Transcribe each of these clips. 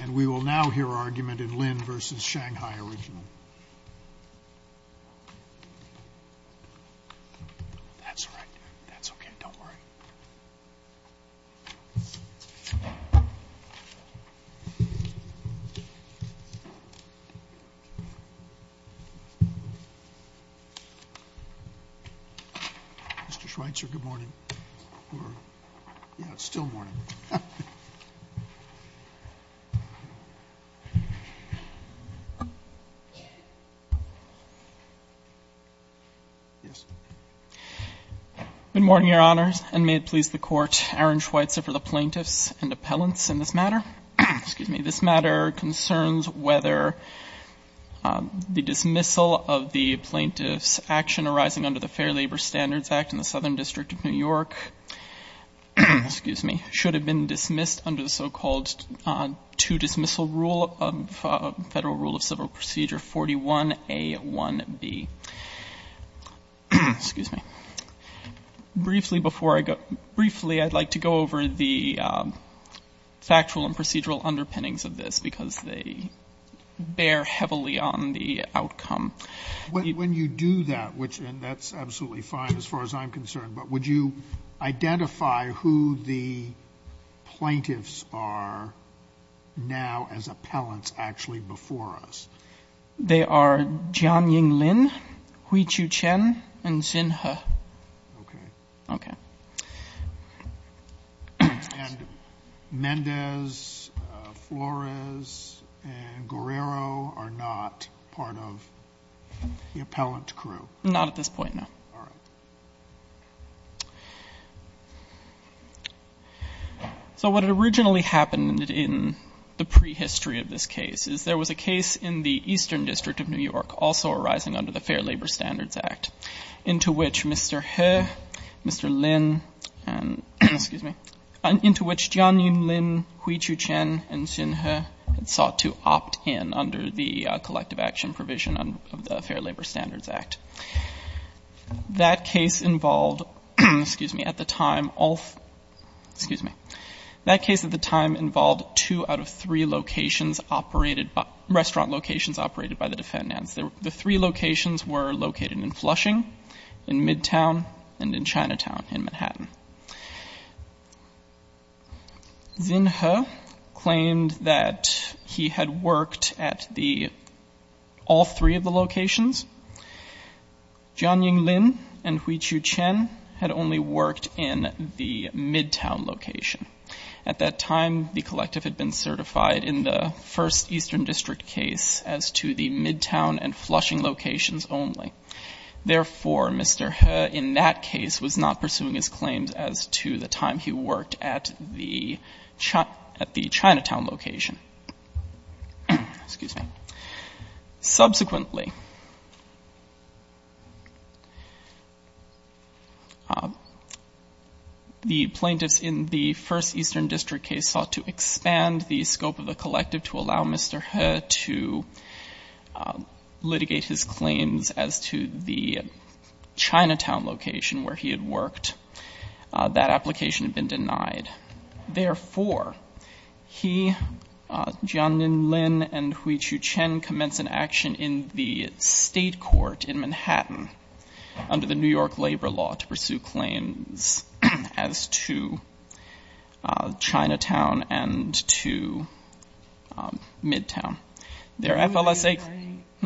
And we will now hear argument in Lin v. Shanghai Original. Mr. Schweitzer, good morning. Yeah, it's still morning. Good morning, Your Honors. And may it please the Court, Aaron Schweitzer for the Plaintiffs and Appellants in this matter. Excuse me. This matter concerns whether the dismissal of the plaintiff's action arising under the Fair Labor Standards Act in the Southern District of New York should have been dismissed under the so-called two-dismissal rule of Federal Rule of Civil Procedure 41A1B. Briefly, I'd like to go over the factual and procedural underpinnings of this because they bear heavily on the outcome. When you do that, and that's absolutely fine as far as I'm concerned, but would you identify who the plaintiffs are now as appellants actually before us? They are Jianying Lin, Huichu Chen, and Xin He. Okay. Okay. And Mendez, Flores, and Guerrero are not part of the appellant crew? Not at this point, no. All right. So what originally happened in the prehistory of this case is there was a case in the Eastern District of New York also arising under the Fair Labor Standards Act into which Mr. He, Mr. Lin, and excuse me, into which Jianying Lin, Huichu Chen, and Xin He had sought to opt in under the collective action provision of the Fair Labor Standards Act. That case involved, excuse me, at the time all, excuse me, that case at the time involved two out of three locations operated, restaurant locations operated by the defendants. The three locations were located in Flushing, in Midtown, and in Chinatown in Manhattan. Xin He claimed that he had worked at the, all three of the locations. Jianying Lin and Huichu Chen had only worked in the Midtown location. At that time, the collective had been certified in the first Eastern District case as to the Midtown and Flushing locations only. Therefore, Mr. He in that case was not pursuing his claims as to the time he worked at the Chinatown location. Excuse me. Subsequently, the plaintiffs in the first Eastern District case sought to expand the scope of the collective to allow Mr. He to litigate his claims as to the Chinatown location where he had worked. That application had been denied. Therefore, he, Jianying Lin and Huichu Chen, commenced an action in the State Court in Manhattan under the New York Labor Law to pursue claims as to Chinatown and to Midtown. Their FLSA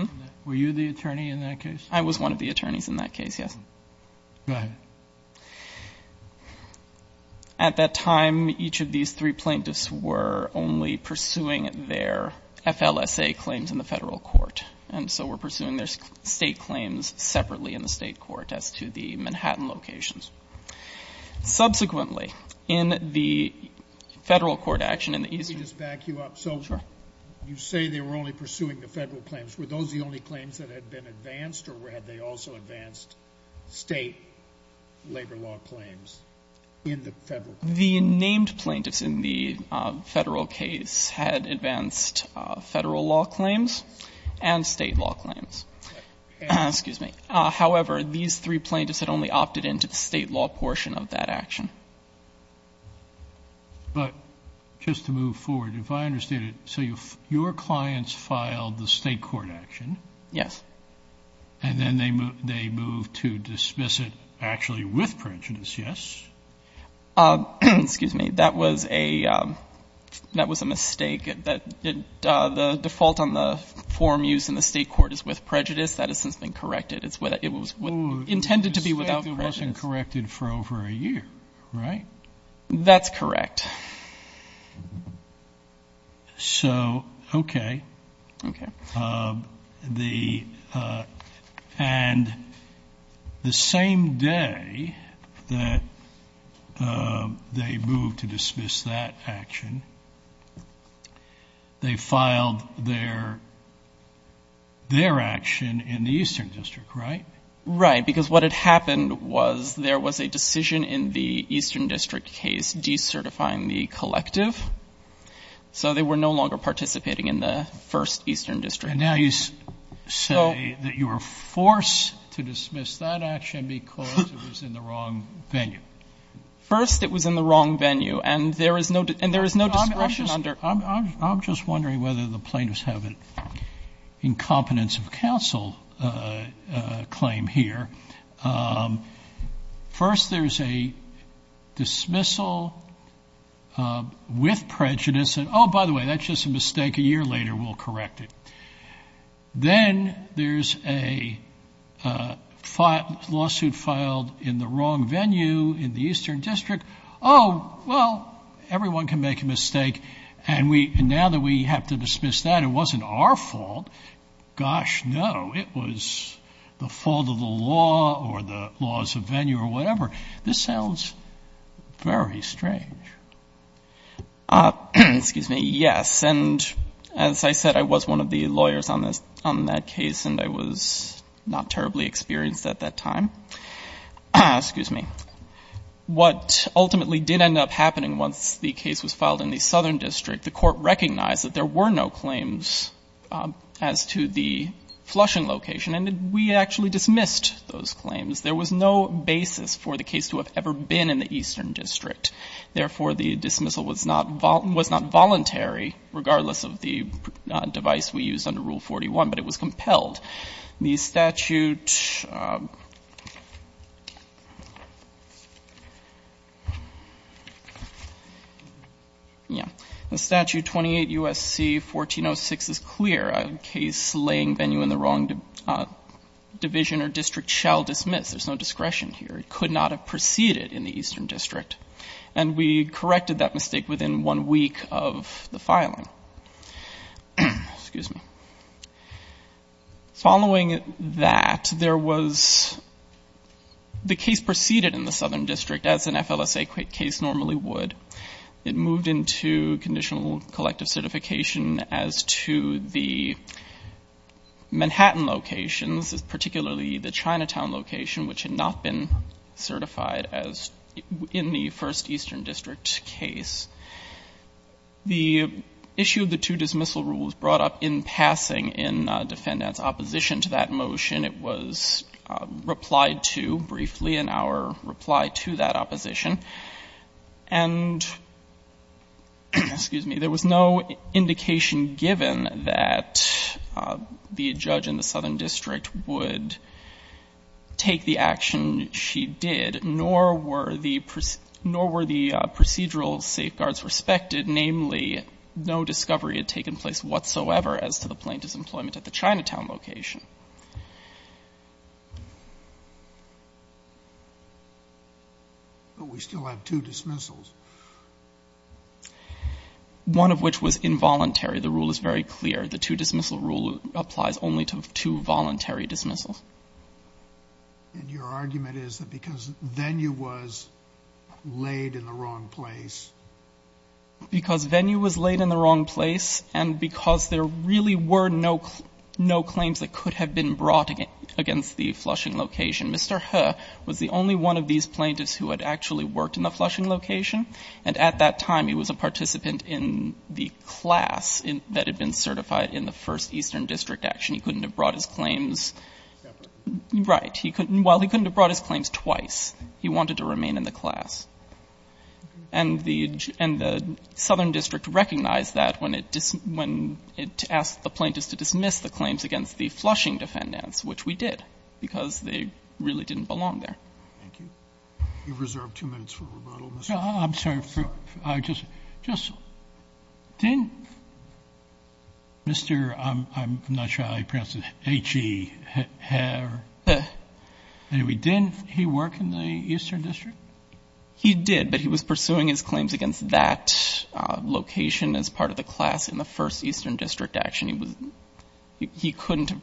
— Were you the attorney in that case? I was one of the attorneys in that case, yes. Go ahead. At that time, each of these three plaintiffs were only pursuing their FLSA claims in the Federal Court, and so were pursuing their State claims separately in the State Court as to the Manhattan locations. Subsequently, in the Federal Court action in the Eastern — Let me just back you up. Sure. You say they were only pursuing the Federal claims. Were those the only claims that had been advanced, or had they also advanced State labor law claims in the Federal case? The named plaintiffs in the Federal case had advanced Federal law claims and State law claims. Excuse me. However, these three plaintiffs had only opted into the State law portion of that action. But just to move forward, if I understand it, so your clients filed the State court action? Yes. And then they moved to dismiss it actually with prejudice, yes? Excuse me. That was a mistake. The default on the form used in the State court is with prejudice. It was intended to be without prejudice. But it wasn't corrected for over a year, right? That's correct. So, okay. Okay. The — and the same day that they moved to dismiss that action, they filed their action in the Eastern District, right? Right, because what had happened was there was a decision in the Eastern District case decertifying the collective. So they were no longer participating in the first Eastern District. And now you say that you were forced to dismiss that action because it was in the wrong venue. First, it was in the wrong venue. And there is no — and there is no discretion under — I'm just wondering whether the plaintiffs have an incompetence of counsel claim here. First, there's a dismissal with prejudice. And, oh, by the way, that's just a mistake. A year later, we'll correct it. Then there's a lawsuit filed in the wrong venue in the Eastern District. Oh, well, everyone can make a mistake. And now that we have to dismiss that, it wasn't our fault. Gosh, no, it was the fault of the law or the laws of venue or whatever. This sounds very strange. Excuse me. Yes. And as I said, I was one of the lawyers on that case, and I was not terribly experienced at that time. Excuse me. What ultimately did end up happening once the case was filed in the Southern District, the Court recognized that there were no claims as to the flushing location, and we actually dismissed those claims. There was no basis for the case to have ever been in the Eastern District. Therefore, the dismissal was not voluntary, regardless of the device we used under Rule 41, but it was compelled. The statute 28 U.S.C. 1406 is clear. A case laying venue in the wrong division or district shall dismiss. There's no discretion here. It could not have proceeded in the Eastern District. And we corrected that mistake within one week of the filing. Excuse me. Following that, there was the case proceeded in the Southern District as an FLSA case normally would. It moved into conditional collective certification as to the Manhattan locations, particularly the Chinatown location, which had not been certified as in the first Eastern District case. The issue of the two dismissal rules brought up in passing in defendant's opposition to that motion. It was replied to briefly in our reply to that opposition. And there was no indication given that the judge in the Southern District would take the action she did, nor were the procedural safeguards respected, namely, no discovery had taken place whatsoever as to the plaintiff's employment at the Chinatown location. But we still have two dismissals. One of which was involuntary. The rule is very clear. The two dismissal rule applies only to two voluntary dismissals. And your argument is that because venue was laid in the wrong place? Because venue was laid in the wrong place and because there really were no claims that could have been brought against the Flushing location. Mr. He was the only one of these plaintiffs who had actually worked in the Flushing location. And at that time, he was a participant in the class that had been certified in the first Eastern District action. He couldn't have brought his claims. Right. While he couldn't have brought his claims twice, he wanted to remain in the class. And the Southern District recognized that when it asked the plaintiffs to dismiss the claims against the Flushing defendants, which we did, because they really didn't belong there. You've reserved two minutes for rebuttal. I'm sorry. Just didn't Mr. I'm not sure how you pronounce it, H-E, have. Anyway, didn't he work in the Eastern District? He did, but he was pursuing his claims against that location as part of the class in the first Eastern District action. He couldn't have.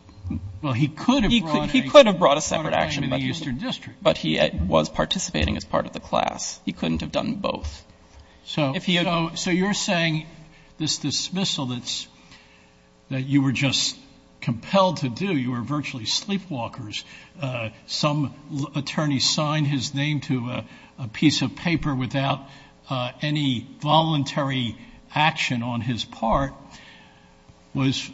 Well, he could have brought a separate action in the Eastern District. But he was participating as part of the class. He couldn't have done both. So you're saying this dismissal that you were just compelled to do, you were virtually sleepwalkers, some attorney signed his name to a piece of paper without any voluntary action on his part, was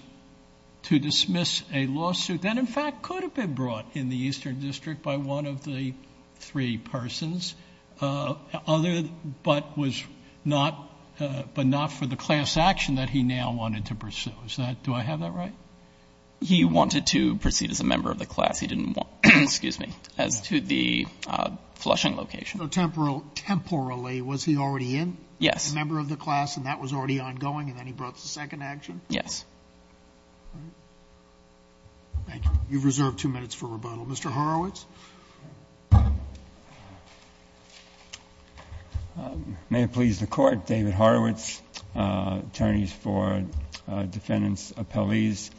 to dismiss a lawsuit that, in fact, could have been brought in the Eastern District by one of the three persons, other, but was not, but not for the class action that he now wanted to pursue. Is that, do I have that right? He wanted to proceed as a member of the class. He didn't want, excuse me, as to the Flushing location. So temporal, temporally, was he already in? Yes. As a member of the class, and that was already ongoing, and then he brought the second action? Yes. All right. Thank you. You've reserved two minutes for rebuttal. Mr. Horowitz. May it please the Court, David Horowitz, attorneys for defendants, appellees.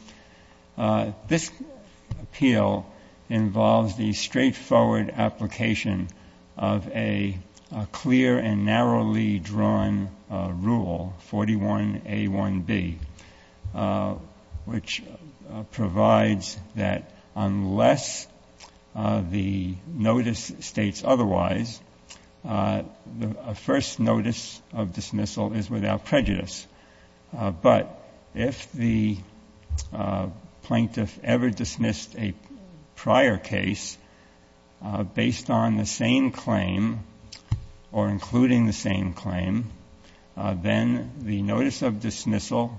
This appeal involves the straightforward application of a clear and narrowly drawn rule, 41A1B, which provides that unless the notice states otherwise, the first notice of dismissal is without prejudice. But if the plaintiff ever dismissed a prior case based on the same claim or including the same claim, then the notice of dismissal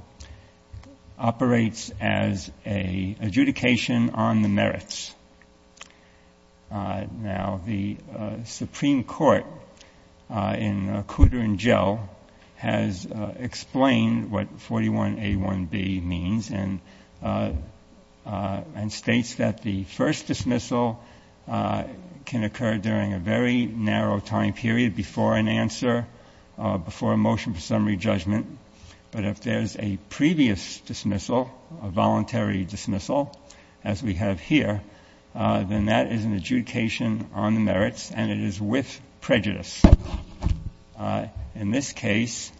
operates as an adjudication on the merits. Now, the Supreme Court in Coudre and Gell has explained what 41A1B means and states that the first dismissal can occur during a very narrow time period before an answer, before a motion for summary judgment. But if there's a previous dismissal, a voluntary dismissal, as we have here, then that is an adjudication on the merits and it is with prejudice. In this case,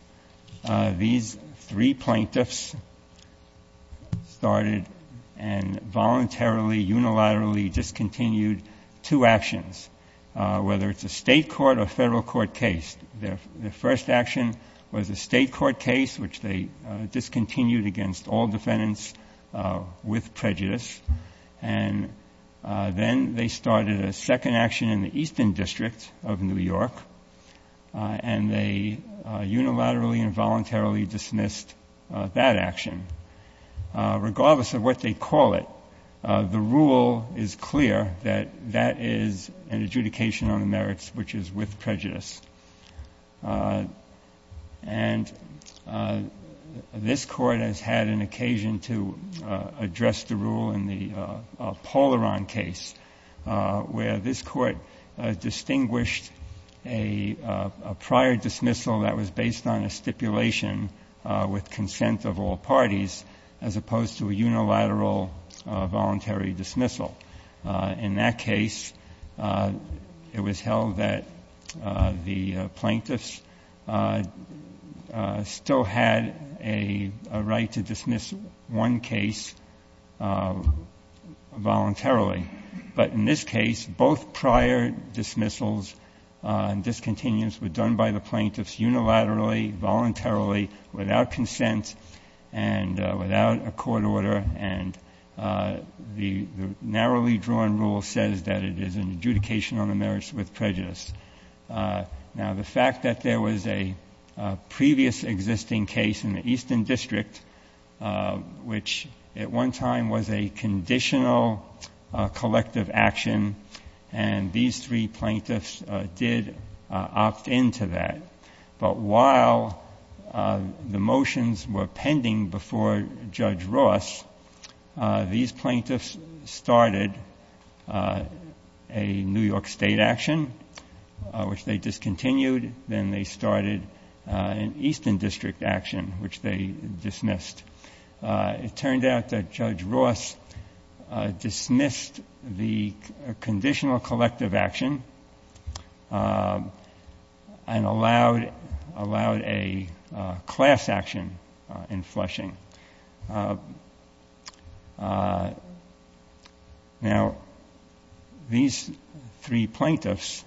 these three plaintiffs started and voluntarily, unilaterally discontinued two actions, whether it's a State court or Federal court case. Their first action was a State court case, which they discontinued against all defendants with prejudice, and then they started a second action in the Eastern District of New York and they unilaterally and voluntarily dismissed that action. Regardless of what they call it, the rule is clear that that is an adjudication on the merits, which is with prejudice. And this Court has had an occasion to address the rule in the Polaron case, where this Court distinguished a prior dismissal that was based on a stipulation with consent of all parties as opposed to a unilateral voluntary dismissal. In that case, it was held that the plaintiffs still had a right to dismiss one case voluntarily. But in this case, both prior dismissals and discontinuance were done by the plaintiffs unilaterally, voluntarily, without consent and without a court order, and the narrowly drawn rule says that it is an adjudication on the merits with prejudice. Now, the fact that there was a previous existing case in the Eastern District, which at one time was a conditional collective action, and these three plaintiffs did opt in to that, but while the motions were pending before Judge Ross, these plaintiffs started a New York State action, which they discontinued. Then they started an Eastern District action, which they dismissed. It turned out that Judge Ross dismissed the conditional collective action and allowed a class action in Flushing. Now, these three plaintiffs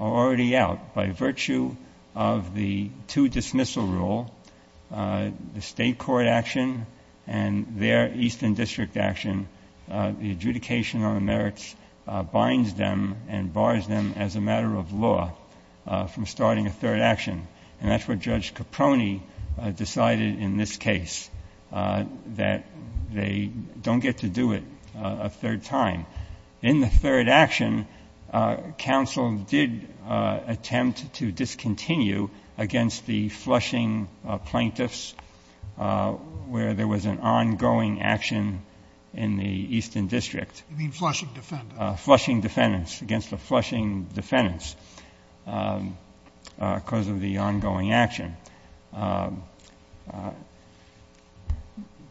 are already out. By virtue of the two-dismissal rule, the state court action and their Eastern District action, the adjudication on the merits binds them and bars them as a matter of law from starting a third action, and that's what Judge Caprone decided in this case. That they don't get to do it a third time. In the third action, counsel did attempt to discontinue against the Flushing plaintiffs where there was an ongoing action in the Eastern District. You mean Flushing defendants? Flushing defendants, against the Flushing defendants, because of the ongoing action.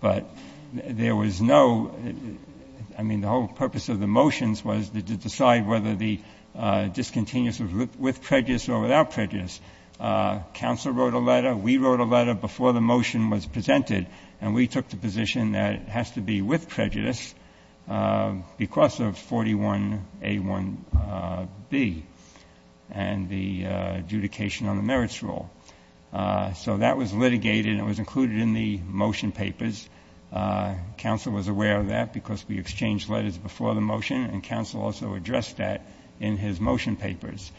But there was no — I mean, the whole purpose of the motions was to decide whether the discontinuous was with prejudice or without prejudice. Counsel wrote a letter. We wrote a letter before the motion was presented, and we took the position that it has to be with prejudice because of 41A1B and the adjudication on the merits rule. So that was litigated and it was included in the motion papers. Counsel was aware of that because we exchanged letters before the motion, and counsel also addressed that in his motion papers.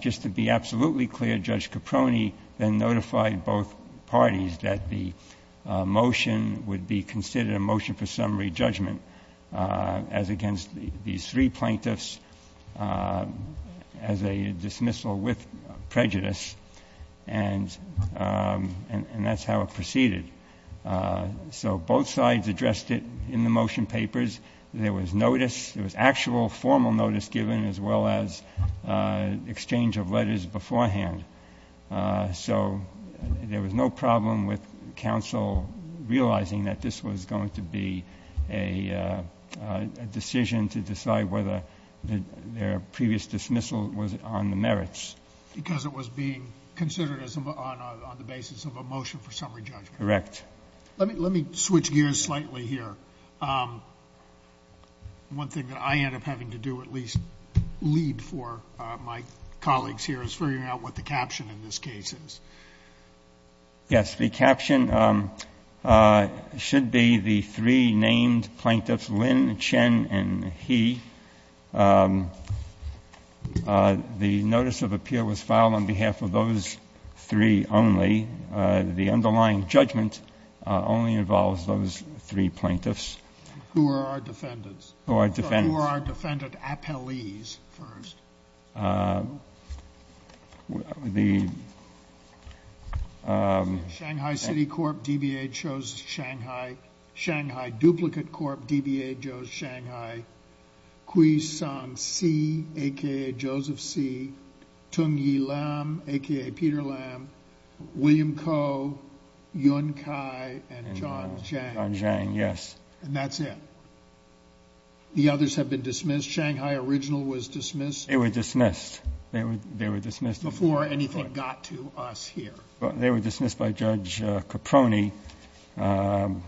Just to be absolutely clear, Judge Caprone then notified both parties that the motion would be considered a motion for summary judgment as against these three plaintiffs as a dismissal with prejudice. And that's how it proceeded. So both sides addressed it in the motion papers. There was notice. There was actual formal notice given as well as exchange of letters beforehand. So there was no problem with counsel realizing that this was going to be a decision to decide whether their previous dismissal was on the merits. Because it was being considered on the basis of a motion for summary judgment. Correct. Let me switch gears slightly here. One thing that I end up having to do, at least lead for my colleagues here, is figuring out what the caption in this case is. Yes. The caption should be the three named plaintiffs, Lynn, Chen, and He. The notice of appeal was filed on behalf of those three only. The underlying judgment only involves those three plaintiffs. Who are our defendants? Who are our defendants? Who are our defendant appellees first? The ---- Shanghai City Corp, DBA chose Shanghai. Shanghai Duplicate Corp, DBA chose Shanghai. Kui-Song Sze, a.k.a. Joseph Sze. Tung-Yi Lam, a.k.a. Peter Lam. William Koh, Yun Kai, and John Zhang. John Zhang, yes. And that's it. The others have been dismissed. Shanghai Original was dismissed. They were dismissed. They were dismissed. Before anything got to us here. They were dismissed by Judge Caproni on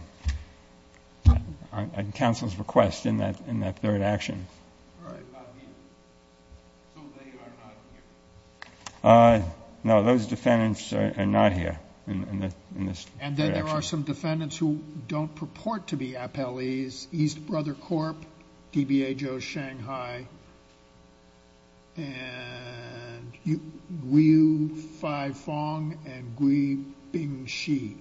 counsel's request in that third action. All right. So they are not here? No, those defendants are not here in this third action. And then there are some defendants who don't purport to be appellees. East Brother Corp, DBA chose Shanghai. And Gui-Fai Fong and Gui-Bing Shi,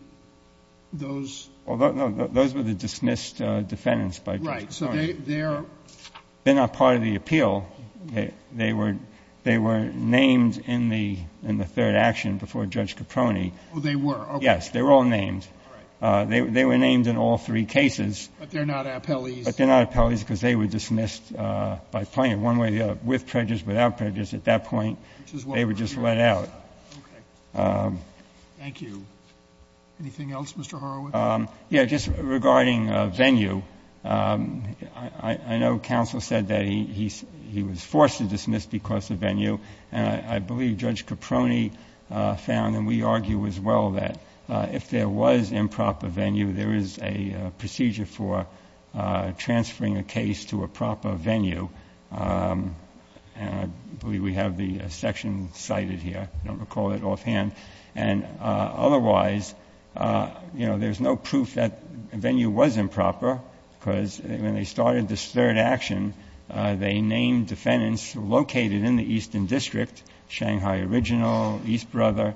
those ---- No, those were the dismissed defendants by Judge Caproni. Right. So they are ---- They're not part of the appeal. They were named in the third action before Judge Caproni. Oh, they were. Yes, they were all named. All right. They were named in all three cases. But they're not appellees. But they're not appellees because they were dismissed by plaintiff. One way or the other. With prejudice, without prejudice. At that point, they were just let out. Okay. Thank you. Anything else, Mr. Horowitz? Yes. Just regarding venue, I know counsel said that he was forced to dismiss because of venue. And I believe Judge Caproni found, and we argue as well, that if there was improper venue, there is a procedure for transferring a case to a proper venue. And I believe we have the section cited here. I don't recall it offhand. And otherwise, you know, there's no proof that venue was improper because when they started this third action, they named defendants located in the Eastern District, Shanghai Original, East Brother.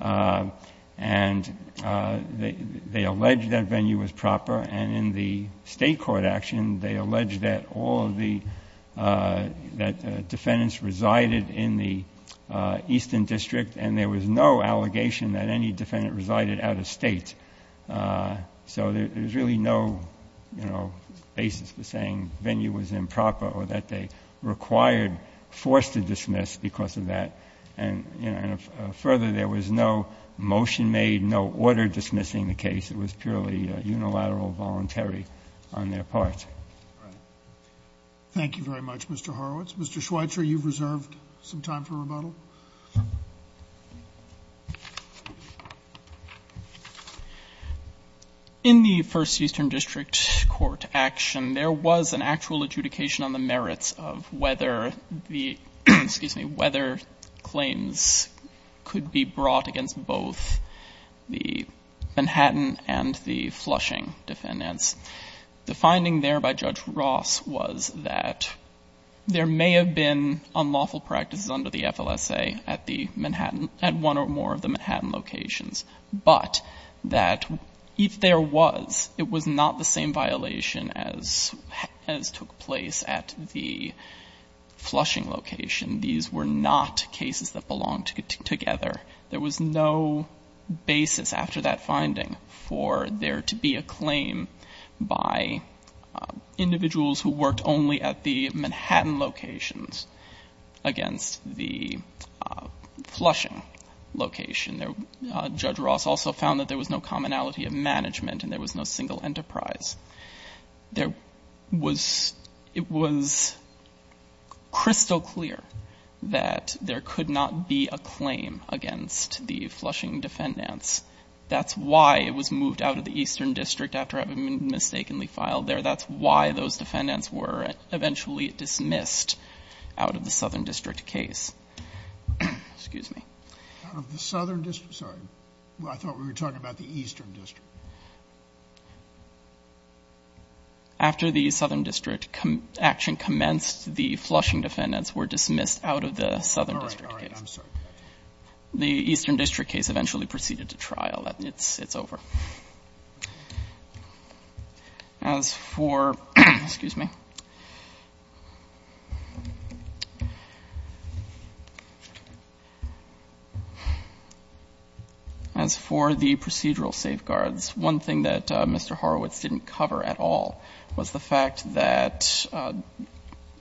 And they alleged that venue was proper. And in the State Court action, they alleged that all of the, that defendants resided in the Eastern District. And there was no allegation that any defendant resided out of State. So there's really no, you know, basis for saying venue was improper or that they required, forced to dismiss because of that. And, you know, further, there was no motion made, no order dismissing the case. It was purely unilateral, voluntary on their part. Thank you very much, Mr. Horowitz. Mr. Schweitzer, you've reserved some time for rebuttal. In the First Eastern District Court action, there was an actual adjudication on the merits of whether the, excuse me, whether claims could be brought against both the Manhattan and the Flushing defendants. The finding there by Judge Ross was that there may have been unlawful practices under the FLSA at the Manhattan, at one or more of the Manhattan locations, but that if there was, it was not the same violation as took place at the Flushing location. These were not cases that belonged together. There was no basis after that finding for there to be a claim by individuals who worked only at the Manhattan locations against the Flushing location. Judge Ross also found that there was no commonality of management and there was no single enterprise. There was, it was crystal clear that there could not be a claim against the Flushing defendants. That's why it was moved out of the Eastern District after it had been mistakenly filed there. That's why those defendants were eventually dismissed out of the Southern District case. Excuse me. Out of the Southern District, sorry. I thought we were talking about the Eastern District. After the Southern District action commenced, the Flushing defendants were dismissed out of the Southern District case. All right, all right. I'm sorry. The Eastern District case eventually proceeded to trial. It's over. As for, excuse me. As for the procedural safeguards, one thing that Mr. Horowitz didn't cover at all was the fact that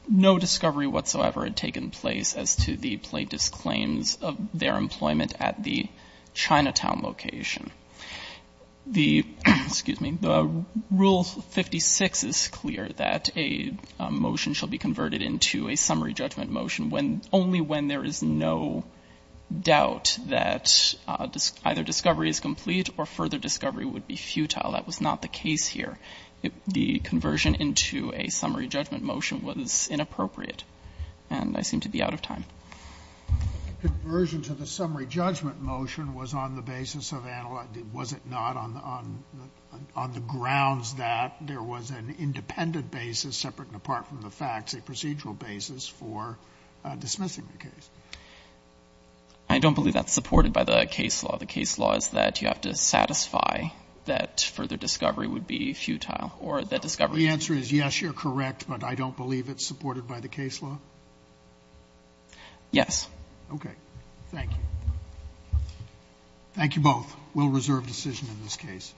no discovery whatsoever had taken place as to the plaintiff's claims of their employment at the Chinatown location. The, excuse me, the Rule 56 is clear that a motion shall be converted into a summary judgment motion only when there is no doubt that either discovery is complete or further discovery would be futile. That was not the case here. The conversion into a summary judgment motion was inappropriate, and I seem to be out of time. Conversion to the summary judgment motion was on the basis of analogy. Was it not? On the grounds that there was an independent basis separate and apart from the facts, a procedural basis for dismissing the case. I don't believe that's supported by the case law. The case law is that you have to satisfy that further discovery would be futile or that discovery. The answer is yes, you're correct, but I don't believe it's supported by the case law. Yes. Okay. Thank you. Thank you both. We'll reserve decision in this case.